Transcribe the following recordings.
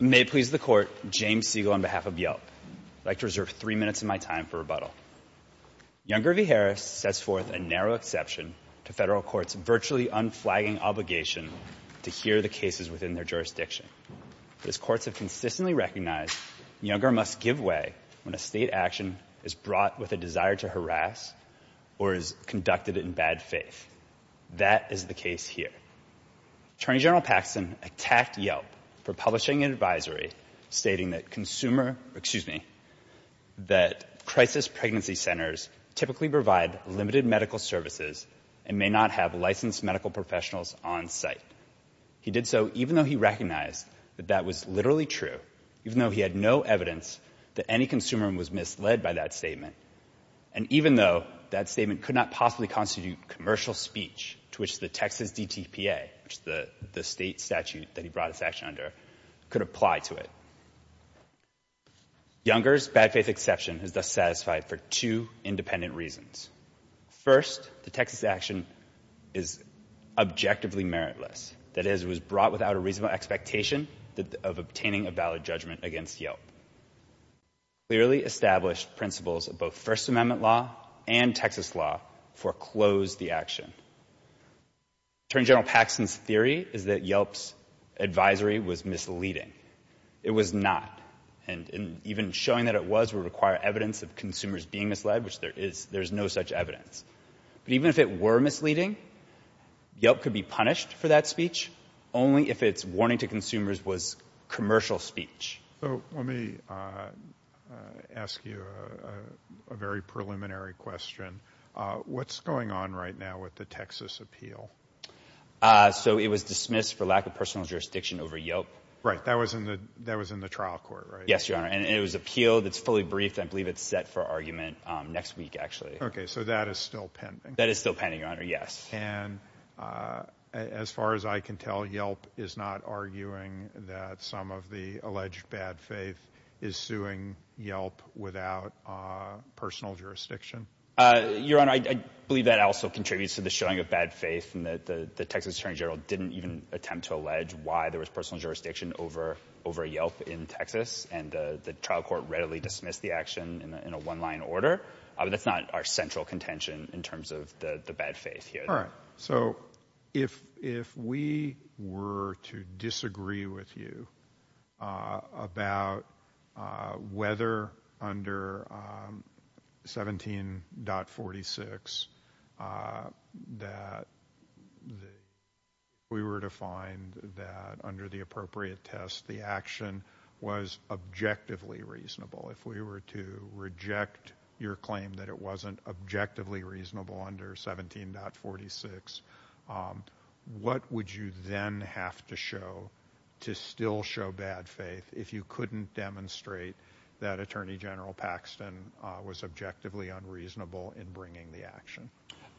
May it please the Court, James Siegel on behalf of Yelp. I'd like to reserve three minutes of my time for rebuttal. Younger v. Harris sets forth a narrow exception to federal courts' virtually unflagging obligation to hear the cases within their jurisdiction. But as courts have consistently recognized, Younger must give way when a state action is brought with a desire to harass or is conducted in bad faith. That is the case here. Attorney General Paxton attacked Yelp for publishing an advisory stating that crisis pregnancy centers typically provide limited medical services and may not have licensed medical professionals on site. He did so even though he recognized that that was literally true, even though he had no evidence that any consumer was misled by that statement, and even though that statement could not possibly constitute commercial speech to which the Texas DTPA, which is the state statute that he brought this action under, could apply to it. Younger's bad faith exception is thus satisfied for two independent reasons. First, the Texas action is objectively meritless. That is, it was brought without a reasonable expectation of obtaining a valid judgment against Yelp. Clearly established principles of both First Amendment law and Texas law foreclosed the action. Attorney General Paxton's theory is that Yelp's advisory was misleading. It was not. And even showing that it was would require evidence of consumers being misled, which there is no such evidence. But even if it were misleading, Yelp could be punished for that speech only if its warning to consumers was commercial speech. So let me ask you a very preliminary question. What's going on right now with the Texas appeal? So it was dismissed for lack of personal jurisdiction over Yelp. Right, that was in the trial court, right? Yes, Your Honor, and it was appealed. It's fully briefed. I believe it's set for argument next week, actually. Okay, so that is still pending. That is still pending, Your Honor, yes. And as far as I can tell, Yelp is not arguing that some of the alleged bad faith is suing Yelp without personal jurisdiction? Your Honor, I believe that also contributes to the showing of bad faith in that the Texas Attorney General didn't even attempt to allege why there was personal jurisdiction over Yelp in Texas, and the trial court readily dismissed the action in a one-line order. That's not our central contention in terms of the bad faith here. All right, so if we were to disagree with you about whether under 17.46 that we were to find that under the appropriate test the action was objectively reasonable, if we were to reject your claim that it wasn't objectively reasonable under 17.46, what would you then have to show to still show bad faith if you couldn't demonstrate that Attorney General Paxton was objectively unreasonable in bringing the action?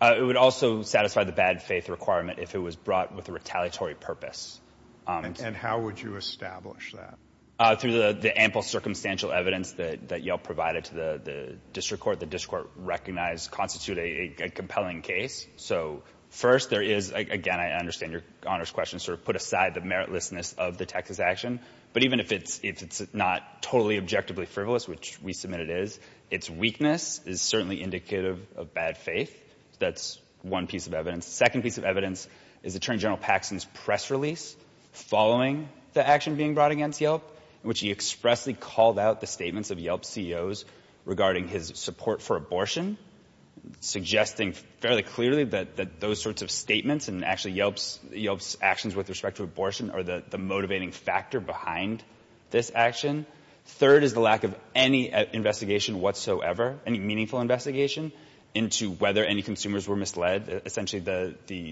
It would also satisfy the bad faith requirement if it was brought with a retaliatory purpose. And how would you establish that? Through the ample circumstantial evidence that Yelp provided to the district court. The district court recognized it constituted a compelling case. So first, there is, again, I understand your Honor's question, sort of put aside the meritlessness of the Texas action, but even if it's not totally objectively frivolous, which we submit it is, its weakness is certainly indicative of bad faith. That's one piece of evidence. The second piece of evidence is Attorney General Paxton's press release following the action being brought against Yelp, in which he expressly called out the statements of Yelp CEOs regarding his support for abortion, suggesting fairly clearly that those sorts of statements and actually Yelp's actions with respect to abortion are the motivating factor behind this action. Third is the lack of any investigation whatsoever, any meaningful investigation into whether any consumers were misled. Essentially,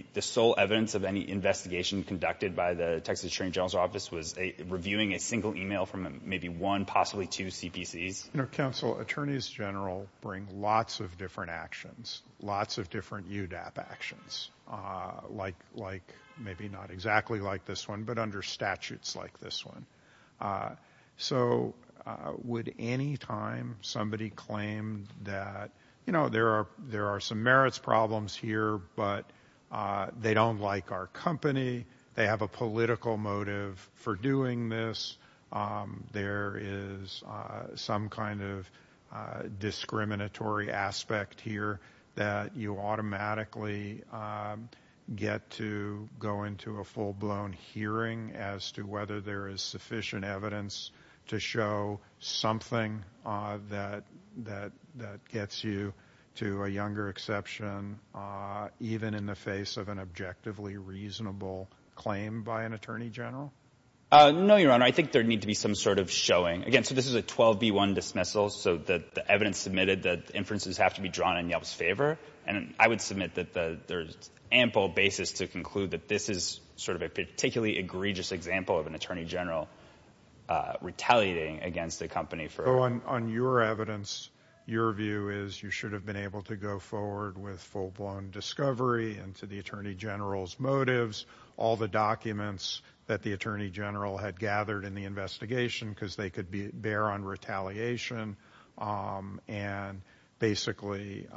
the sole evidence of any investigation conducted by the Texas Attorney General's office was reviewing a single email from maybe one, possibly two CPCs. You know, counsel, attorneys general bring lots of different actions, lots of different UDAP actions, like maybe not exactly like this one, but under statutes like this one. So would any time somebody claimed that, you know, there are some merits problems here, but they don't like our company, they have a political motive for doing this, there is some kind of discriminatory aspect here that you automatically get to go into a full-blown hearing as to whether there is sufficient evidence to show something that gets you to a younger exception even in the face of an objectively reasonable claim by an attorney general? No, Your Honor, I think there would need to be some sort of showing. Again, so this is a 12B1 dismissal, so the evidence submitted that inferences have to be drawn in Yelp's favor, and I would submit that there is ample basis to conclude that this is sort of a particularly egregious example of an attorney general retaliating against a company for... So on your evidence, your view is you should have been able to go forward with full-blown discovery into the attorney general's motives, all the documents that the attorney general had gathered in the investigation because they could bear on retaliation, and basically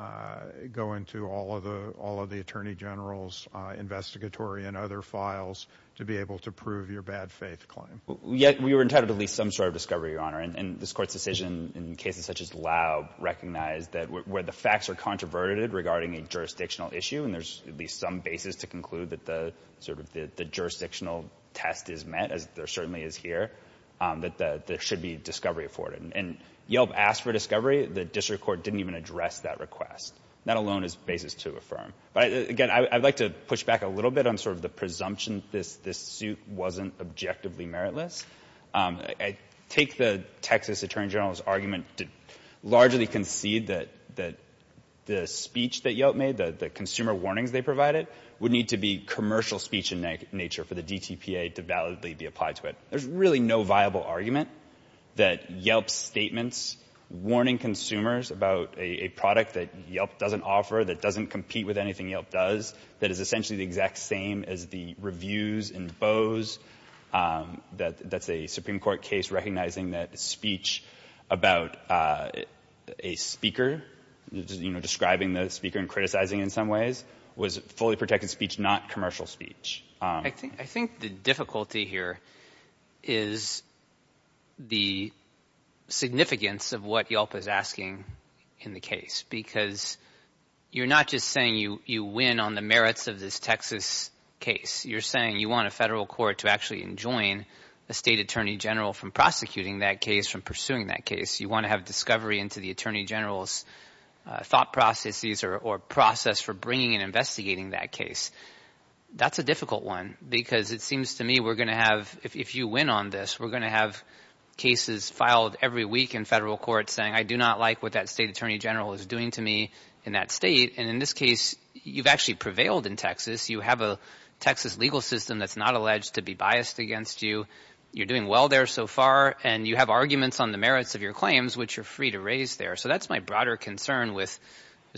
go into all of the attorney general's investigatory and other files to be able to prove your bad-faith claim. Yet we were entitled to at least some sort of discovery, Your Honor, and this Court's decision in cases such as Laub recognized that where the facts are controverted regarding a jurisdictional issue and there's at least some basis to conclude that the jurisdictional test is met, as there certainly is here, that there should be discovery afforded. And Yelp asked for discovery. The district court didn't even address that request. That alone is basis to affirm. But again, I'd like to push back a little bit on sort of the presumption this suit wasn't objectively meritless. I take the Texas attorney general's argument to largely concede that the speech that Yelp made, the consumer warnings they provided, would need to be commercial speech in nature for the DTPA to validly be applied to it. There's really no viable argument that Yelp's statements warning consumers about a product that Yelp doesn't offer, that doesn't compete with anything Yelp does, that is essentially the exact same as the reviews in Bose, that's a Supreme Court case recognizing that speech about a speaker, you know, describing the speaker and criticizing in some ways, was fully protected speech, not commercial speech. I think the difficulty here is the significance of what Yelp is asking in the case because you're not just saying you win on the merits of this Texas case. You're saying you want a federal court to actually enjoin a state attorney general from prosecuting that case, from pursuing that case. You want to have discovery into the attorney general's thought processes or process for bringing and investigating that case. That's a difficult one because it seems to me we're going to have, if you win on this, we're going to have cases filed every week in federal court saying I do not like what that state attorney general is doing to me in that state. And in this case, you've actually prevailed in Texas. You have a Texas legal system that's not alleged to be biased against you. You're doing well there so far, and you have arguments on the merits of your claims, which you're free to raise there. So that's my broader concern with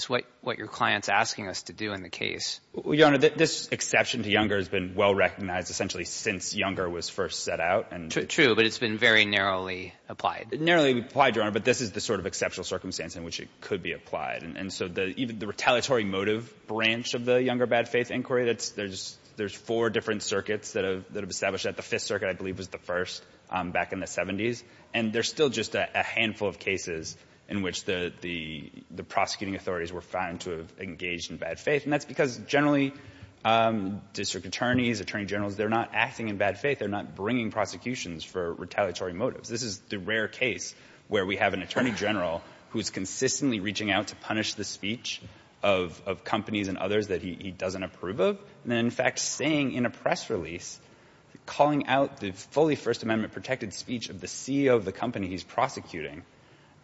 what your client's asking us to do in the case. Your Honor, this exception to Younger has been well recognized essentially since Younger was first set out. True, but it's been very narrowly applied. Narrowly applied, Your Honor, but this is the sort of exceptional circumstance in which it could be applied. And so even the retaliatory motive branch of the Younger bad faith inquiry, there's four different circuits that have established that. The Fifth Circuit, I believe, was the first back in the 70s. And there's still just a handful of cases in which the prosecuting authorities were found to have engaged in bad faith, and that's because generally district attorneys, attorney generals, they're not acting in bad faith. They're not bringing prosecutions for retaliatory motives. This is the rare case where we have an attorney general who's consistently reaching out to punish the speech of companies and others that he doesn't approve of, and in fact saying in a press release, calling out the fully First Amendment protected speech of the CEO of the company he's prosecuting,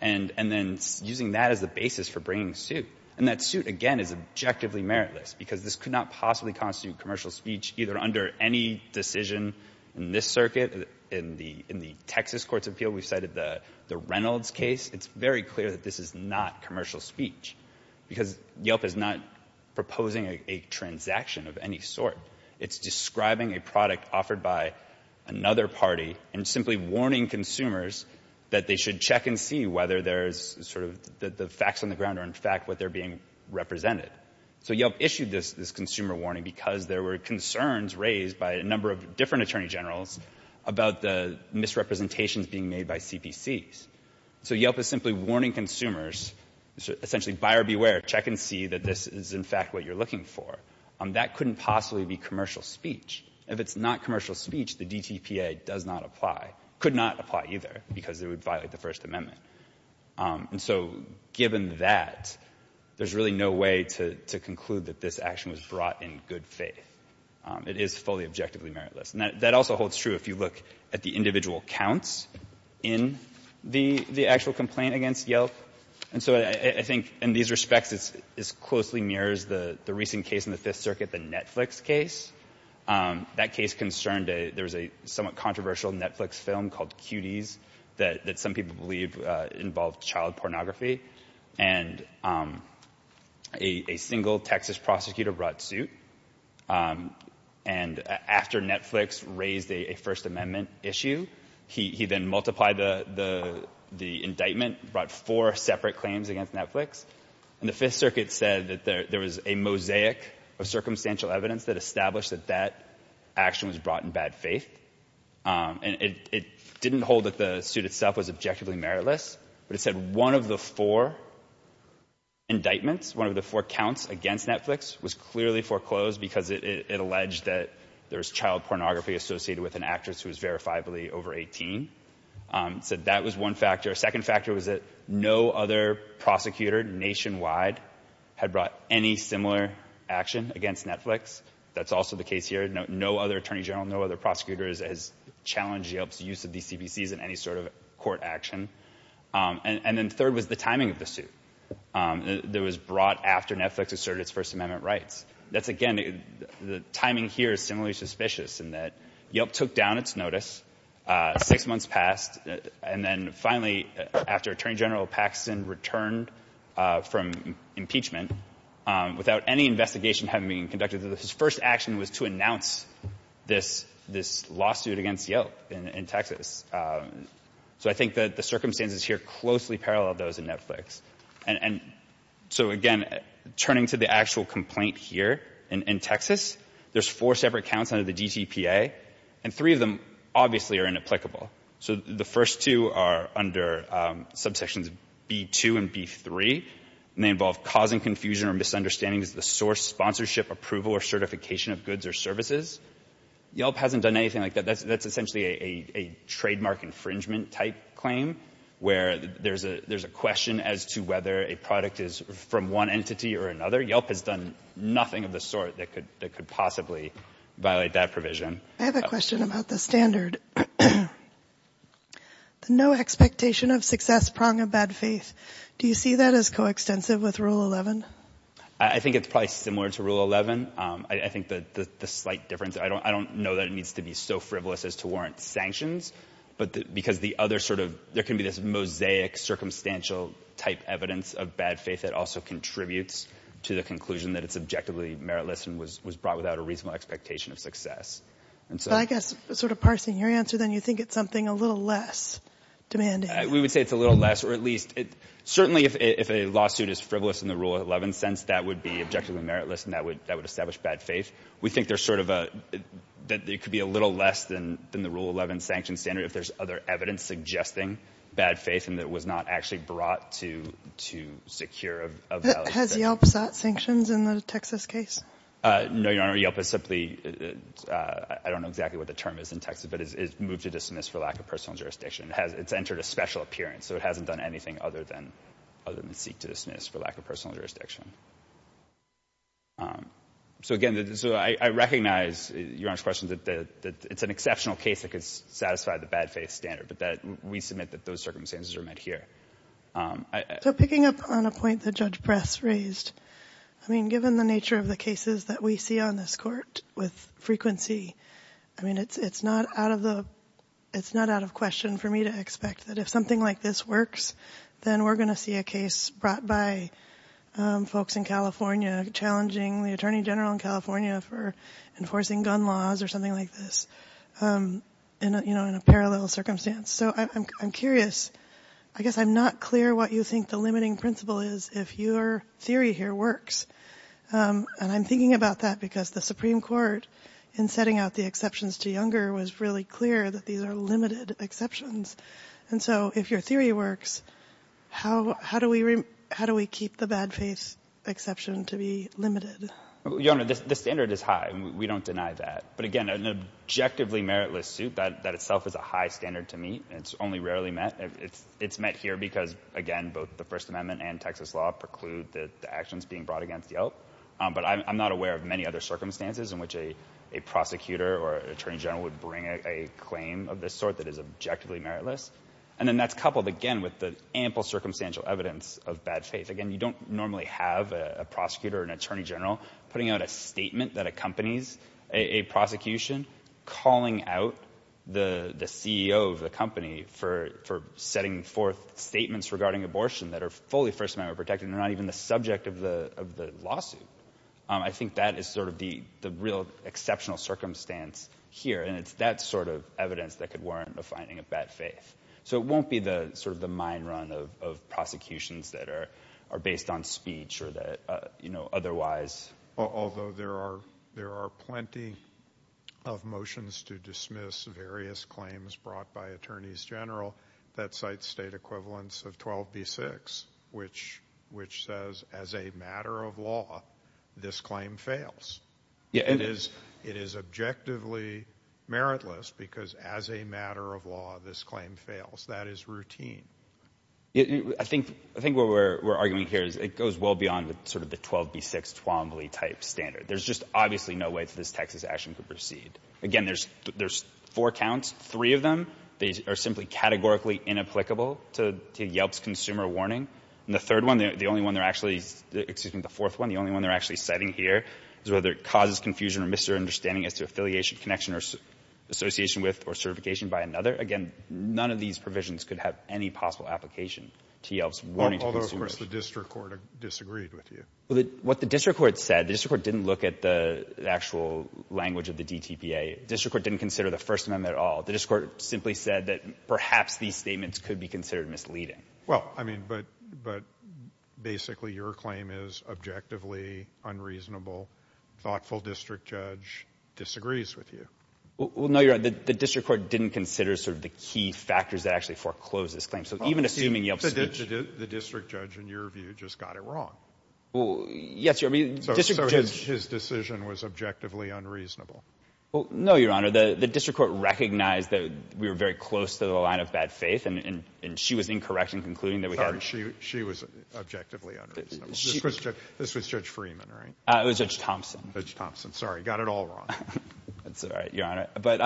and then using that as the basis for bringing suit. And that suit, again, is objectively meritless because this could not possibly constitute commercial speech either under any decision in this circuit, in the Texas Courts of Appeal. We cited the Reynolds case. It's very clear that this is not commercial speech because Yelp is not proposing a transaction of any sort. It's describing a product offered by another party and simply warning consumers that they should check and see whether there's sort of the facts on the ground or in fact what they're being represented. So Yelp issued this consumer warning because there were concerns raised by a number of different attorney generals about the misrepresentations being made by CPCs. So Yelp is simply warning consumers, essentially buyer beware, check and see that this is in fact what you're looking for. That couldn't possibly be commercial speech. If it's not commercial speech, the DTPA does not apply, could not apply either, because it would violate the First Amendment. And so given that, there's really no way to conclude that this action was brought in good faith. It is fully objectively meritless. And that also holds true if you look at the individual counts in the actual complaint against Yelp. And so I think in these respects it closely mirrors the recent case in the Fifth Circuit, the Netflix case. That case concerned there was a somewhat controversial Netflix film called Cuties that some people believe involved child pornography. And a single Texas prosecutor brought suit. And after Netflix raised a First Amendment issue, he then multiplied the indictment, brought four separate claims against Netflix. And the Fifth Circuit said that there was a mosaic of circumstantial evidence that established that that action was brought in bad faith. And it didn't hold that the suit itself was objectively meritless, but it said one of the four indictments, one of the four counts against Netflix was clearly foreclosed because it alleged that there was child pornography associated with an actress who was verifiably over 18. It said that was one factor. A second factor was that no other prosecutor nationwide had brought any similar action against Netflix. That's also the case here. No other attorney general, no other prosecutor has challenged Yelp's use of these CPCs in any sort of court action. And then third was the timing of the suit that was brought after Netflix asserted its First Amendment rights. That's, again, the timing here is similarly suspicious in that Yelp took down its notice, six months passed, and then finally, after Attorney General Paxton returned from impeachment, without any investigation having been conducted, his first action was to announce this lawsuit against Yelp in Texas. So I think that the circumstances here closely parallel those in Netflix. And so, again, turning to the actual complaint here in Texas, there's four separate counts under the DTPA, and three of them obviously are inapplicable. So the first two are under subsections B2 and B3, and they involve causing confusion or misunderstandings of the source, sponsorship, approval, or certification of goods or services. Yelp hasn't done anything like that. That's essentially a trademark infringement type claim where there's a question as to whether a product is from one entity or another. Yelp has done nothing of the sort that could possibly violate that provision. I have a question about the standard. The no expectation of success prong of bad faith. Do you see that as coextensive with Rule 11? I think it's probably similar to Rule 11. I think the slight difference, I don't know that it needs to be so frivolous as to warrant sanctions, but because the other sort of, there can be this mosaic circumstantial type evidence of bad faith that also contributes to the conclusion that it's objectively meritless and was brought without a reasonable expectation of success. I guess sort of parsing your answer, then, you think it's something a little less demanding. We would say it's a little less, or at least, certainly if a lawsuit is frivolous in the Rule 11 sense, that would be objectively meritless, and that would establish bad faith. We think there's sort of a, that it could be a little less than the Rule 11 sanction standard if there's other evidence suggesting bad faith and that it was not actually brought to secure a valid sanction. Has Yelp sought sanctions in the Texas case? No, Your Honor, Yelp has simply, I don't know exactly what the term is in Texas, but it's moved to dismiss for lack of personal jurisdiction. It's entered a special appearance, so it hasn't done anything other than seek to dismiss for lack of personal jurisdiction. So again, so I recognize, Your Honor's question, that it's an exceptional case that could satisfy the bad faith standard, but that we submit that those circumstances are met here. So picking up on a point that Judge Press raised, I mean, given the nature of the cases that we see on this Court with frequency, I mean, it's not out of the, it's not out of question for me to expect that if something like this works, then we're going to see a case brought by folks in California challenging the Attorney General in California for enforcing gun laws or something like this, you know, in a parallel circumstance. So I'm curious, I guess I'm not clear what you think the limiting principle is if your theory here works. And I'm thinking about that because the Supreme Court, in setting out the exceptions to Younger, was really clear that these are limited exceptions. And so if your theory works, how do we keep the bad faith exception to be limited? Your Honor, the standard is high. We don't deny that. But again, an objectively meritless suit, that itself is a high standard to meet. It's only rarely met. It's met here because, again, both the First Amendment and Texas law preclude the actions being brought against Yelp. But I'm not aware of many other circumstances in which a prosecutor or an attorney general is objectively meritless. And then that's coupled, again, with the ample circumstantial evidence of bad faith. Again, you don't normally have a prosecutor or an attorney general putting out a statement that accompanies a prosecution calling out the CEO of the company for setting forth statements regarding abortion that are fully First Amendment protected and are not even the subject of the lawsuit. I think that is sort of the real exceptional circumstance here. And it's that sort of evidence that could warrant a finding of bad faith. So it won't be the sort of the mine run of prosecutions that are based on speech or that, you know, otherwise. Although there are plenty of motions to dismiss various claims brought by attorneys general that cite state equivalents of 12B6, which says, as a matter of law, this claim fails. Yeah, it is. It is objectively meritless because, as a matter of law, this claim fails. That is routine. I think what we're arguing here is it goes well beyond sort of the 12B6 Twombly-type standard. There's just obviously no way that this Texas action could proceed. Again, there's four counts. Three of them are simply categorically inapplicable to Yelp's consumer warning. And the third one, the only one they're actually, excuse me, the fourth one, the only one they're actually citing here is whether it causes confusion or misunderstanding as to affiliation, connection, or association with or certification by another. Again, none of these provisions could have any possible application to Yelp's warning to consumers. Although, of course, the district court disagreed with you. What the district court said, the district court didn't look at the actual language of the DTPA. The district court didn't consider the First Amendment at all. The district court simply said that perhaps these statements could be considered misleading. Well, I mean, but basically your claim is objectively unreasonable. Thoughtful district judge disagrees with you. Well, no, Your Honor. The district court didn't consider sort of the key factors that actually foreclosed this claim. So even assuming Yelp's speech. The district judge, in your view, just got it wrong. Well, yes, Your Honor. So his decision was objectively unreasonable. Well, no, Your Honor. The district court recognized that we were very close to the line of bad faith, and she was incorrect in concluding that we had. She was objectively unreasonable. This was Judge Freeman, right? It was Judge Thompson. Judge Thompson. Sorry. Got it all wrong. That's all right, Your Honor. But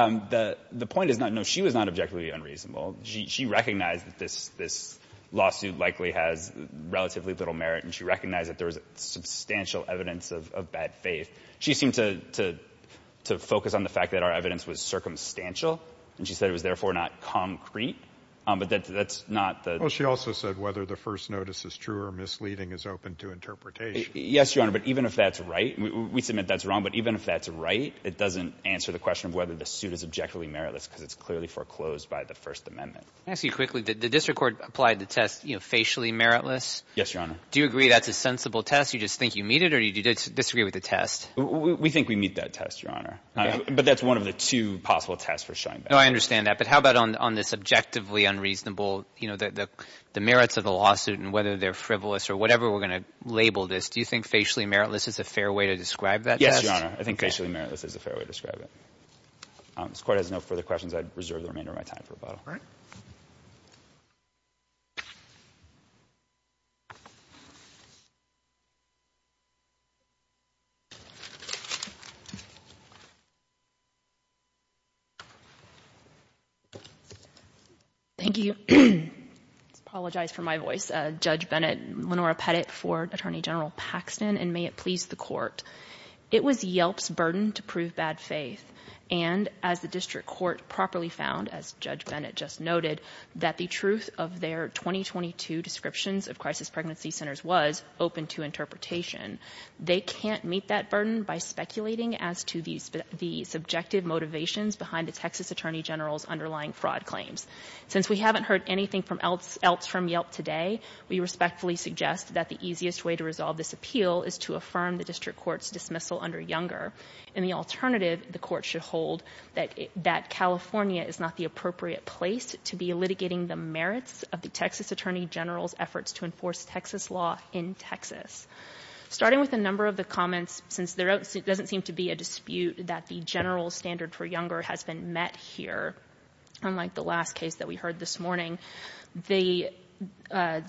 the point is, no, she was not objectively unreasonable. She recognized that this lawsuit likely has relatively little merit, and she recognized that there was substantial evidence of bad faith. She seemed to focus on the fact that our evidence was circumstantial, and she said it was therefore not concrete. But that's not the. Well, she also said whether the first notice is true or misleading is open to interpretation. Yes, Your Honor. But even if that's right, we submit that's wrong. But even if that's right, it doesn't answer the question of whether the suit is objectively meritless, because it's clearly foreclosed by the First Amendment. Can I ask you quickly? Did the district court apply the test, you know, facially meritless? Yes, Your Honor. Do you agree that's a sensible test? You just think you meet it, or do you disagree with the test? We think we meet that test, Your Honor. But that's one of the two possible tests for showing bad faith. No, I understand that. But how about on this objectively unreasonable, you know, the merits of the lawsuit and whether they're frivolous or whatever we're going to label this, do you think facially meritless is a fair way to describe that test? Yes, Your Honor. I think facially meritless is a fair way to describe it. If this Court has no further questions, I'd reserve the remainder of my time for rebuttal. All right. Thank you. I apologize for my voice. Judge Bennett, Lenora Pettit for Attorney General Paxton, and may it please the Court. It was Yelp's burden to prove bad faith. And as the district court properly found, as Judge Bennett just noted, that the truth of their 2022 descriptions of crisis pregnancy centers was open to interpretation. They can't meet that burden by speculating as to the subjective motivations behind the Texas Attorney General's underlying fraud claims. Since we haven't heard anything else from Yelp today, we respectfully suggest that the easiest way to resolve this appeal is to affirm the district court's dismissal under Younger. And the alternative the court should hold, that California is not the appropriate place to be litigating the merits of the Texas Attorney General's efforts to enforce Texas law in Texas. Starting with a number of the comments, since there doesn't seem to be a dispute that the general standard for Younger has been met here, unlike the last case that we heard this morning, they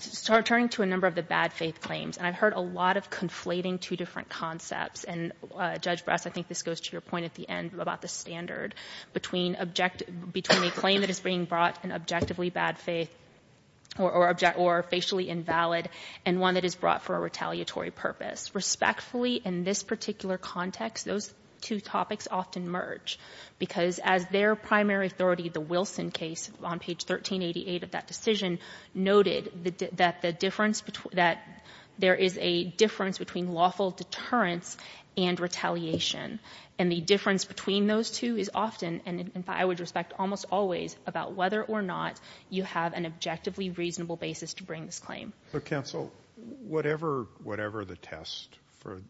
start turning to a number of the bad faith claims. And I've heard a lot of conflating two different concepts. And, Judge Brass, I think this goes to your point at the end about the standard between a claim that is being brought in objectively bad faith or facially invalid and one that is brought for a retaliatory purpose. Respectfully, in this particular context, those two topics often merge, because as their primary authority, the Wilson case on page 1388 of that decision, noted that the difference between that there is a difference between lawful deterrence and retaliation. And the difference between those two is often, and I would respect almost always, about whether or not you have an objectively reasonable basis to bring this claim. Counsel, whatever the test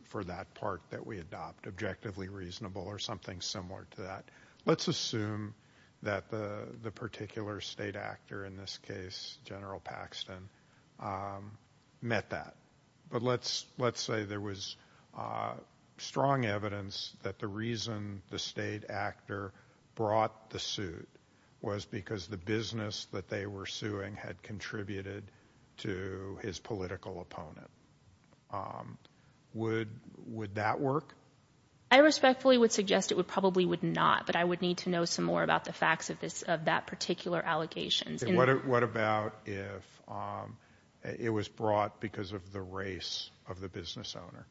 for that part that we adopt, objectively reasonable or something similar to that, let's assume that the particular state actor, in this case General Paxton, met that. But let's say there was strong evidence that the reason the state actor brought the suit was because the business that they were suing had contributed to his political opponent. Would that work? I respectfully would suggest it probably would not, but I would need to know some more about the facts of that particular allegations. What about if it was brought because of the race of the business owner?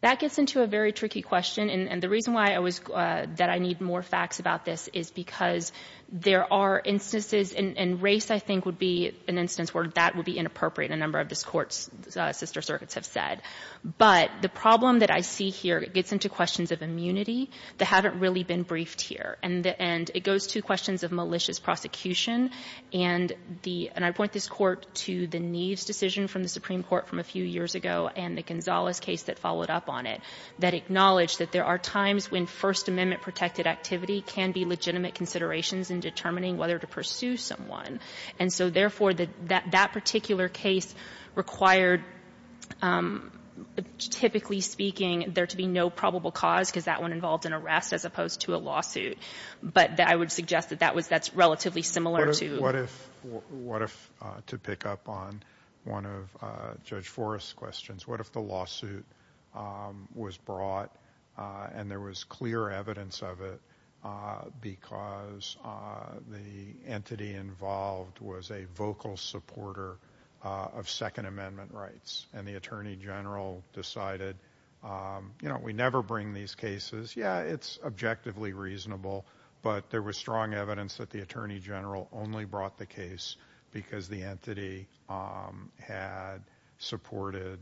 That gets into a very tricky question. And the reason why I was going to say that I need more facts about this is because there are instances, and race I think would be an instance where that would be inappropriate, a number of the Court's sister circuits have said. But the problem that I see here gets into questions of immunity that haven't really been briefed here. And it goes to questions of malicious prosecution. And I point this Court to the Neves decision from the Supreme Court from a few years ago and the Gonzalez case that followed up on it that acknowledged that there are times when First Amendment protected activity can be legitimate considerations in determining whether to pursue someone. And so, therefore, that particular case required, typically speaking, there to be no probable cause because that one involved an arrest as opposed to a lawsuit. But I would suggest that that's relatively similar to — What if, to pick up on one of Judge Forrest's questions, what if the lawsuit was brought and there was clear evidence of it because the entity involved was a vocal supporter of Second Amendment rights and the Attorney General decided, you know, we never bring these cases. Yeah, it's objectively reasonable, but there was strong evidence that the Attorney General only brought the case because the entity had supported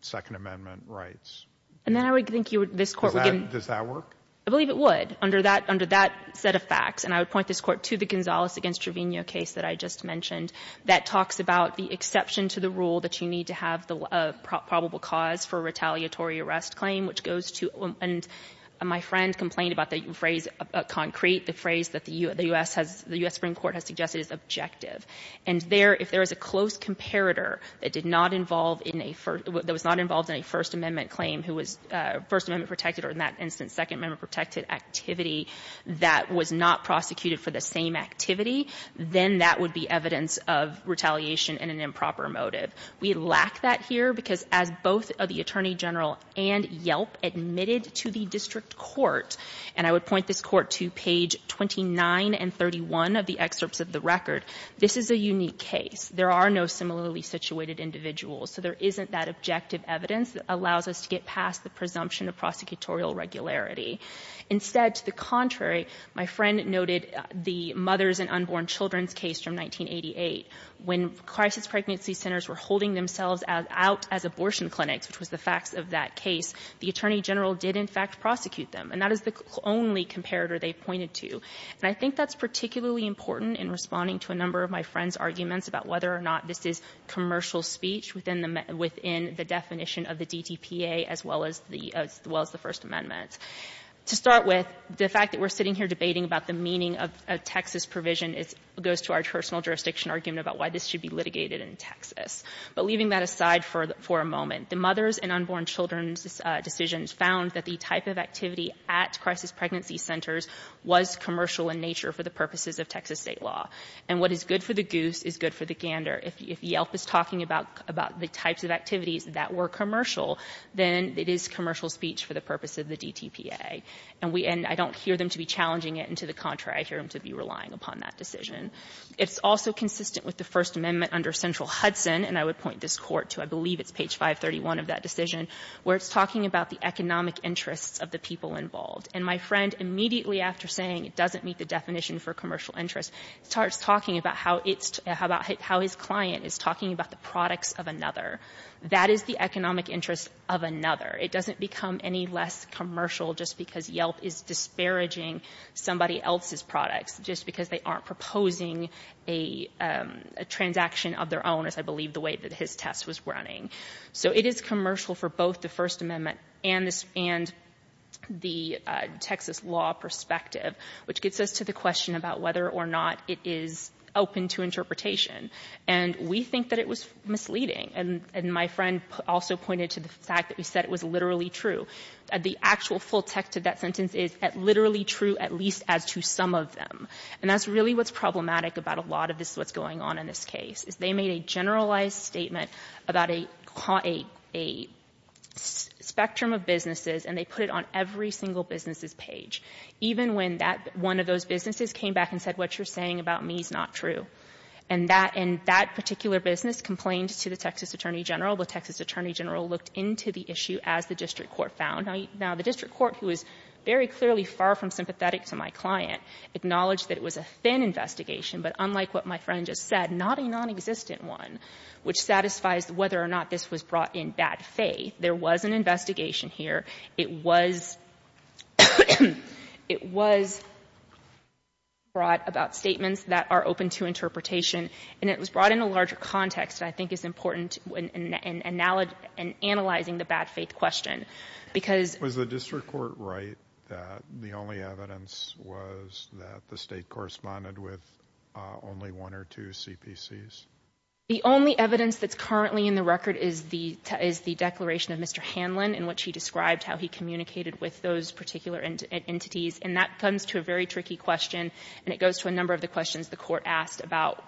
Second Amendment rights. And then I would think you would — Does that work? I believe it would, under that set of facts. And I would point this Court to the Gonzalez v. Trevino case that I just mentioned that talks about the exception to the rule that you need to have the probable cause for a retaliatory arrest claim, which goes to — and my friend complained about the phrase concrete, the phrase that the U.S. has — the U.S. Supreme Court has suggested is objective. And there, if there is a close comparator that did not involve in a — that was not involved in a First Amendment claim who was First Amendment protected or in that instance Second Amendment protected activity that was not prosecuted for the same activity, then that would be evidence of retaliation and an improper motive. We lack that here because as both the Attorney General and Yelp admitted to the district court, and I would point this Court to page 29 and 31 of the excerpts of the record, this is a unique case. There are no similarly situated individuals, so there isn't that objective evidence that allows us to get past the presumption of prosecutorial regularity. Instead, to the contrary, my friend noted the mothers and unborn children's case from 1988. When crisis pregnancy centers were holding themselves out as abortion clinics, which was the facts of that case, the Attorney General did, in fact, prosecute them, and that is the only comparator they pointed to. And I think that's particularly important in responding to a number of my friend's arguments about whether or not this is commercial speech within the — within the definition of the DTPA as well as the First Amendment. To start with, the fact that we're sitting here debating about the meaning of a Texas provision goes to our personal jurisdiction argument about why this should be litigated in Texas. But leaving that aside for a moment, the mothers and unborn children's decisions found that the type of activity at crisis pregnancy centers was commercial in nature for the purposes of Texas State law. And what is good for the goose is good for the gander. If Yelp is talking about the types of activities that were commercial, then it is commercial speech for the purpose of the DTPA. And I don't hear them to be challenging it, and to the contrary, I hear them to be relying upon that decision. It's also consistent with the First Amendment under Central Hudson, and I would point this Court to, I believe it's page 531 of that decision, where it's talking about the economic interests of the people involved. And my friend, immediately after saying it doesn't meet the definition for commercial interests, starts talking about how it's — how his client is talking about the products of another. That is the economic interest of another. It doesn't become any less commercial just because Yelp is disparaging somebody else's products, just because they aren't proposing a transaction of their own, as I believe the way that his test was running. So it is commercial for both the First Amendment and the Texas law perspective, which gets us to the question about whether or not it is open to interpretation. And we think that it was misleading. And my friend also pointed to the fact that we said it was literally true. The actual full text of that sentence is literally true at least as to some of them. And that's really what's problematic about a lot of this, what's going on in this case, is they made a generalized statement about a — a spectrum of businesses, and they put it on every single business's page, even when that — one of those businesses came back and said, what you're saying about me is not true. And that — and that particular business complained to the Texas attorney general. The Texas attorney general looked into the issue, as the district court found. Now, the district court, who is very clearly far from sympathetic to my client, acknowledged that it was a thin investigation, but unlike what my friend just said, not a nonexistent one, which satisfies whether or not this was brought in bad faith. There was an investigation here. It was — it was brought about statements that are open to interpretation, and it was brought in a larger context that I think is important in analyzing the bad faith question, because — Was the district court right that the only evidence was that the State corresponded with only one or two CPCs? The only evidence that's currently in the record is the — is the declaration of Mr. Hanlon, in which he described how he communicated with those particular entities, and that comes to a very tricky question, and it goes to a number of the questions the court asked about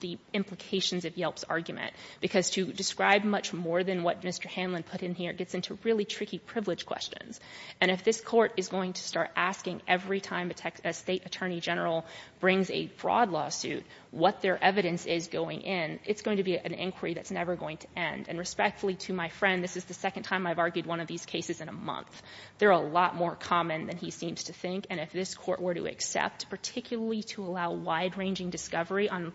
the implications of Yelp's argument, because to describe much more than what Mr. Hanlon put in here gets into really tricky privilege questions. And if this Court is going to start asking every time a State attorney general brings a fraud lawsuit what their evidence is going in, it's going to be an inquiry that's never going to end. And respectfully to my friend, this is the second time I've argued one of these cases in a month. They're a lot more common than he seems to think, and if this Court were to accept, particularly to allow wide-ranging discovery on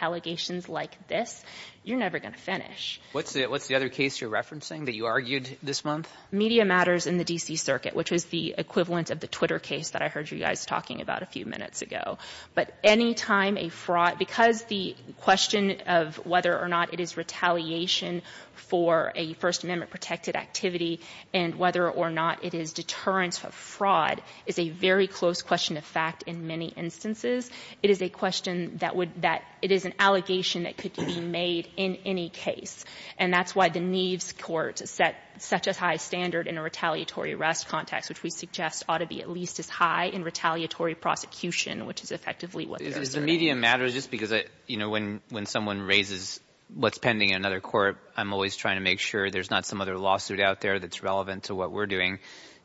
allegations like this, you're never going to finish. What's the other case you're referencing that you argued this month? Media matters in the D.C. Circuit, which was the equivalent of the Twitter case that I heard you guys talking about a few minutes ago. But any time a fraud — because the question of whether or not it is retaliation for a First Amendment-protected activity and whether or not it is deterrence for fraud is a very close question of fact in many instances. It is a question that would — that — it is an allegation that could be made in any case. And that's why the Neves Court set such a high standard in a retaliatory arrest context, which we suggest ought to be at least as high in retaliatory prosecution, which is effectively what there is today. Is the media matter just because, you know, when someone raises what's pending in another court, I'm always trying to make sure there's not some other lawsuit out there that's relevant to what we're doing.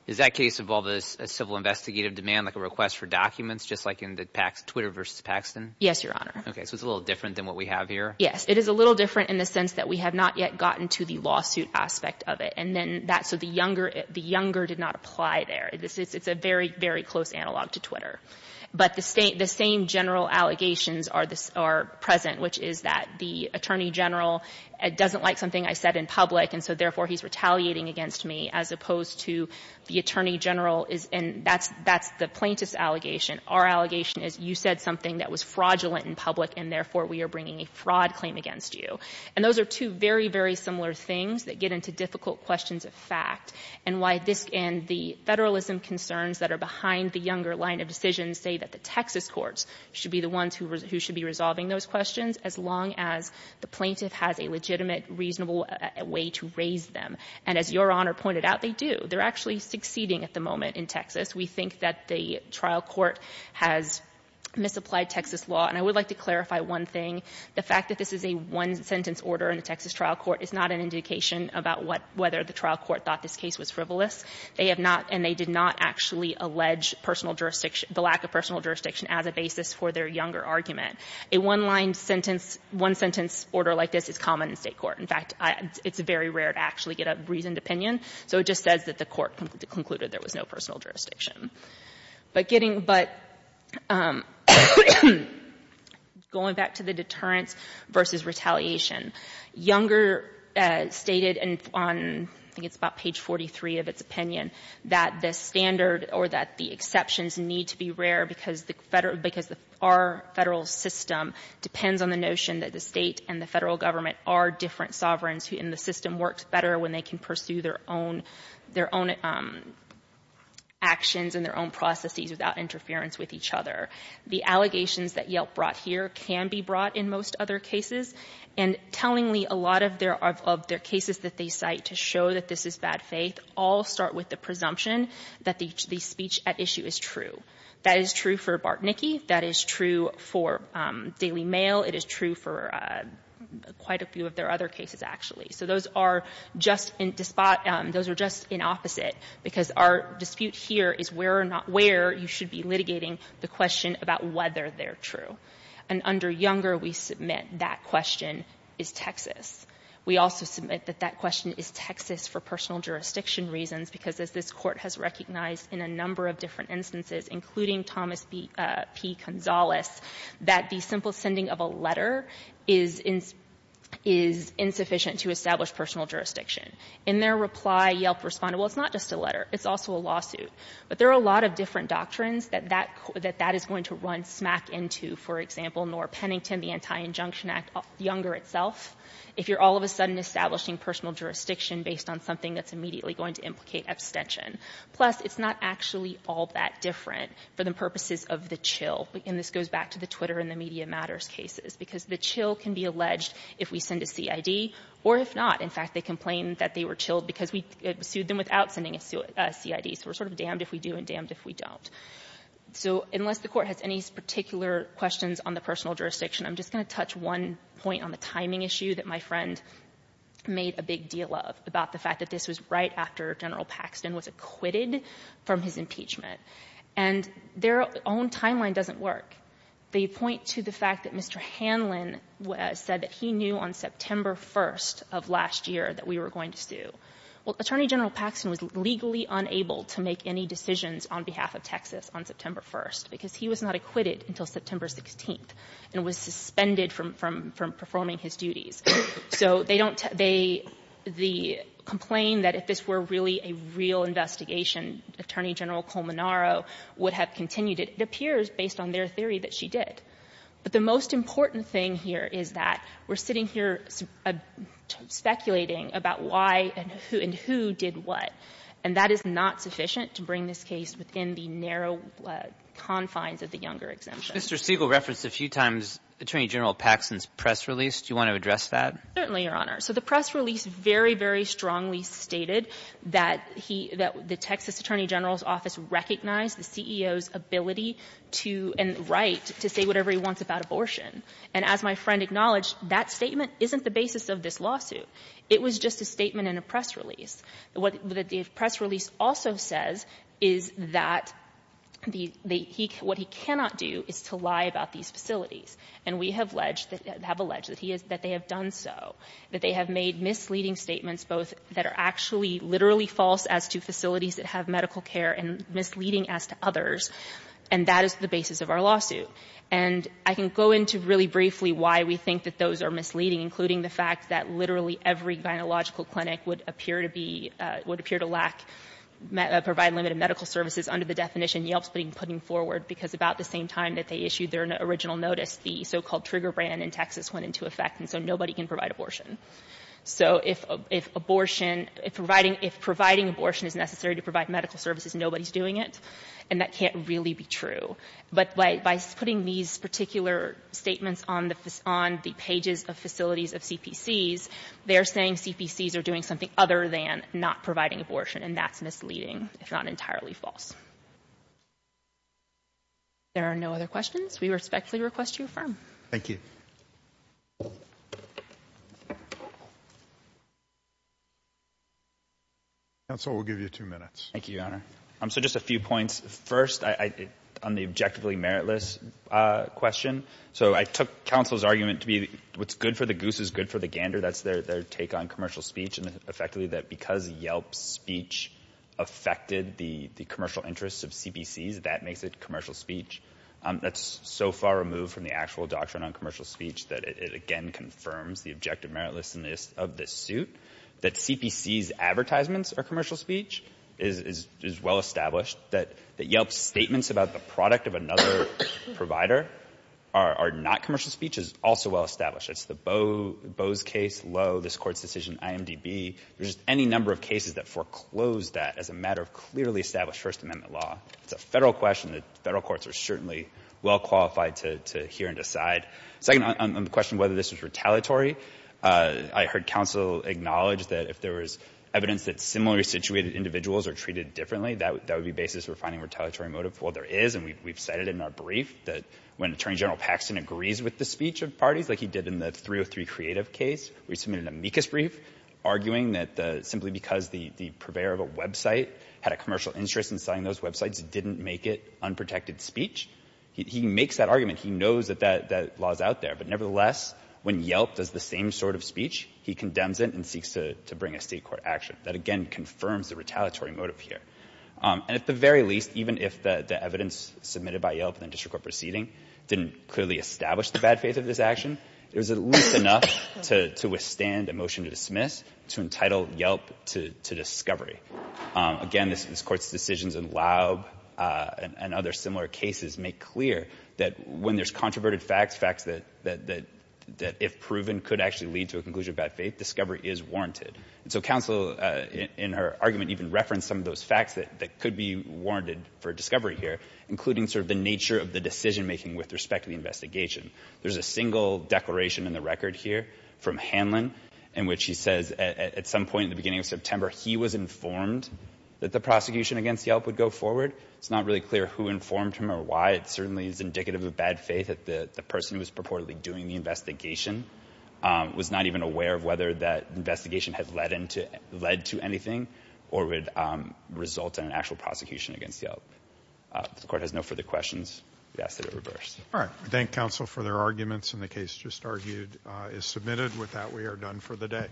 Is that case of all this civil investigative demand like a request for documents, just like in the Twitter versus Paxton? Yes, Your Honor. Okay. So it's a little different than what we have here? Yes. It is a little different in the sense that we have not yet gotten to the lawsuit aspect of it. And then that — so the younger — the younger did not apply there. It's a very, very close analog to Twitter. But the same general allegations are present, which is that the Attorney General doesn't like something I said in public, and so therefore he's retaliating against me, as opposed to the Attorney General is — and that's the plaintiff's allegation. Our allegation is you said something that was fraudulent in public, and therefore we are bringing a fraud claim against you. And those are two very, very similar things that get into difficult questions of fact, and why this — and the Federalism concerns that are behind the younger line of decisions say that the ones who should be resolving those questions, as long as the plaintiff has a legitimate, reasonable way to raise them. And as Your Honor pointed out, they do. They're actually succeeding at the moment in Texas. We think that the trial court has misapplied Texas law. And I would like to clarify one thing. The fact that this is a one-sentence order in the Texas trial court is not an indication about what — whether the trial court thought this case was frivolous. They have not — and they did not actually allege personal jurisdiction — the lack of personal jurisdiction as a basis for their younger argument. A one-line sentence — one-sentence order like this is common in State court. In fact, it's very rare to actually get a reasoned opinion. So it just says that the court concluded there was no personal jurisdiction. But getting — but going back to the deterrence versus retaliation, Younger stated on — I think it's about page 43 of its opinion that the standard or that the exceptions need to be rare because the Federal — because our Federal system depends on the notion that the State and the Federal government are different sovereigns, and the system works better when they can pursue their own — their own actions and their own processes without interference with each other. The allegations that Yelp brought here can be brought in most other cases. And tellingly, a lot of their — of their cases that they cite to show that this is bad faith all start with the presumption that the speech at issue is true. That is true for Bartnicki. That is true for Daily Mail. It is true for quite a few of their other cases, actually. So those are just in — those are just in opposite because our dispute here is where or not where you should be litigating the question about whether they're true. And under Younger, we submit that question is Texas. We also submit that that question is Texas for personal jurisdiction reasons because, as this Court has recognized in a number of different instances, including Thomas P. Gonzales, that the simple sending of a letter is insufficient to establish personal jurisdiction. In their reply, Yelp responded, well, it's not just a letter. It's also a lawsuit. But there are a lot of different doctrines that that — that that is going to run smack into, for example, Norah Pennington, the Anti-Injunction Act, Younger itself, if you're all of a sudden establishing personal jurisdiction based on something that's immediately going to implicate abstention. Plus, it's not actually all that different for the purposes of the chill. And this goes back to the Twitter and the So unless the Court has any particular questions on the personal jurisdiction, I'm just going to touch one point on the timing issue that my friend made a big deal of about the fact that this was right after General Paxton was acquitted from his impeachment. And their own timeline doesn't work. They point to the fact that Mr. Hanlon said that he knew on September 1st of last year that we were going to sue. Well, Attorney General Paxton was legally unable to make any decisions on behalf of Texas on September 1st, because he was not acquitted until September 16th and was suspended from — from performing his duties. So they don't — they — the complaint that if this were really a real investigation, Attorney General Colmanaro would have continued it, it appears, based on their theory, that she did. But the most important thing here is that we're sitting here speculating about why and who — and who did what. And that is not sufficient to bring this case within the narrow confines of the Younger exemption. Mr. Siegel referenced a few times Attorney General Paxton's press release. Do you want to address that? Certainly, Your Honor. So the press release very, very strongly stated that he — that the Texas Attorney General's office recognized the CEO's ability to — and right to say whatever he wants about abortion. And as my friend acknowledged, that statement isn't — isn't the basis of this lawsuit. It was just a statement in a press release. What the press release also says is that the — the — he — what he cannot do is to lie about these facilities. And we have alleged — have alleged that he has — that they have done so, that they have made misleading statements both that are actually literally false as to facilities that have medical care and misleading as to others. And that is the basis of our lawsuit. And I can go into really briefly why we think that those are misleading, including the fact that literally every gynecological clinic would appear to be — would appear to lack — provide limited medical services under the definition Yelp is putting forward, because about the same time that they issued their original notice, the so-called Trigger brand in Texas went into effect, and so nobody can provide abortion. So if abortion — if providing — if providing abortion is necessary to provide medical services, nobody's doing it. And that can't really be true. But by — by putting these particular statements on the — on the pages of facilities of CPCs, they're saying CPCs are doing something other than not providing abortion. And that's misleading, if not entirely false. If there are no other questions, we respectfully request you affirm. Thank you. Counsel, we'll give you two minutes. Thank you, Your Honor. So just a few points. First, I — on the objectively meritless question, so I took counsel's argument to be what's good for the goose is good for the gander. That's their take on commercial speech, and effectively that because Yelp's speech affected the commercial interests of CPCs, that makes it commercial speech. That's so far removed from the actual doctrine on commercial speech that it again confirms the objective meritlessness of this suit. That CPC's advertisements are commercial speech is — is well established. That Yelp's statements about the product of another provider are not commercial speech is also well established. It's the Boe — Boe's case, Lowe, this Court's decision, IMDb. There's any number of cases that foreclose that as a matter of clearly established First Amendment law. It's a Federal question that Federal courts are certainly well qualified to — to hear and decide. Second, on — on the question whether this was retaliatory, I heard counsel acknowledge that if there was evidence that similarly situated individuals are treated differently, that — that would be basis for finding retaliatory motive. Well, there is, and we've cited in our brief that when Attorney General Paxton agrees with the speech of parties, like he did in the 303 Creative case, we submitted an amicus brief arguing that the — simply because the — the purveyor of a website had a commercial interest in selling those websites didn't make it unprotected speech. He — he makes that argument. He knows that that — that law is out there. But nevertheless, when Yelp does the same sort of speech, he condemns it and seeks to — to bring a State court action. That, again, confirms the retaliatory motive here. And at the very least, even if the — the evidence submitted by Yelp in the district court proceeding didn't clearly establish the bad faith of this action, there's at least enough to — to withstand a motion to dismiss to entitle Yelp to — to discovery. Again, this — this Court's decisions in Laub and — and other similar cases make clear that when there's controverted facts, facts that — that — that if proven could actually lead to a conclusion of bad faith, discovery is warranted. And so counsel, in her argument, even referenced some of those facts that — that could be warranted for discovery here, including sort of the nature of the decision making with respect to the investigation. There's a single declaration in the record here from Hanlon in which he says at — at the prosecution against Yelp would go forward. It's not really clear who informed him or why. It certainly is indicative of bad faith that the person who was purportedly doing the investigation was not even aware of whether that investigation had led into — led to anything or would result in an actual prosecution against Yelp. If the Court has no further questions, we ask that it reverse. All right. I thank counsel for their arguments. And the case just argued is submitted. With that, we are done for the day.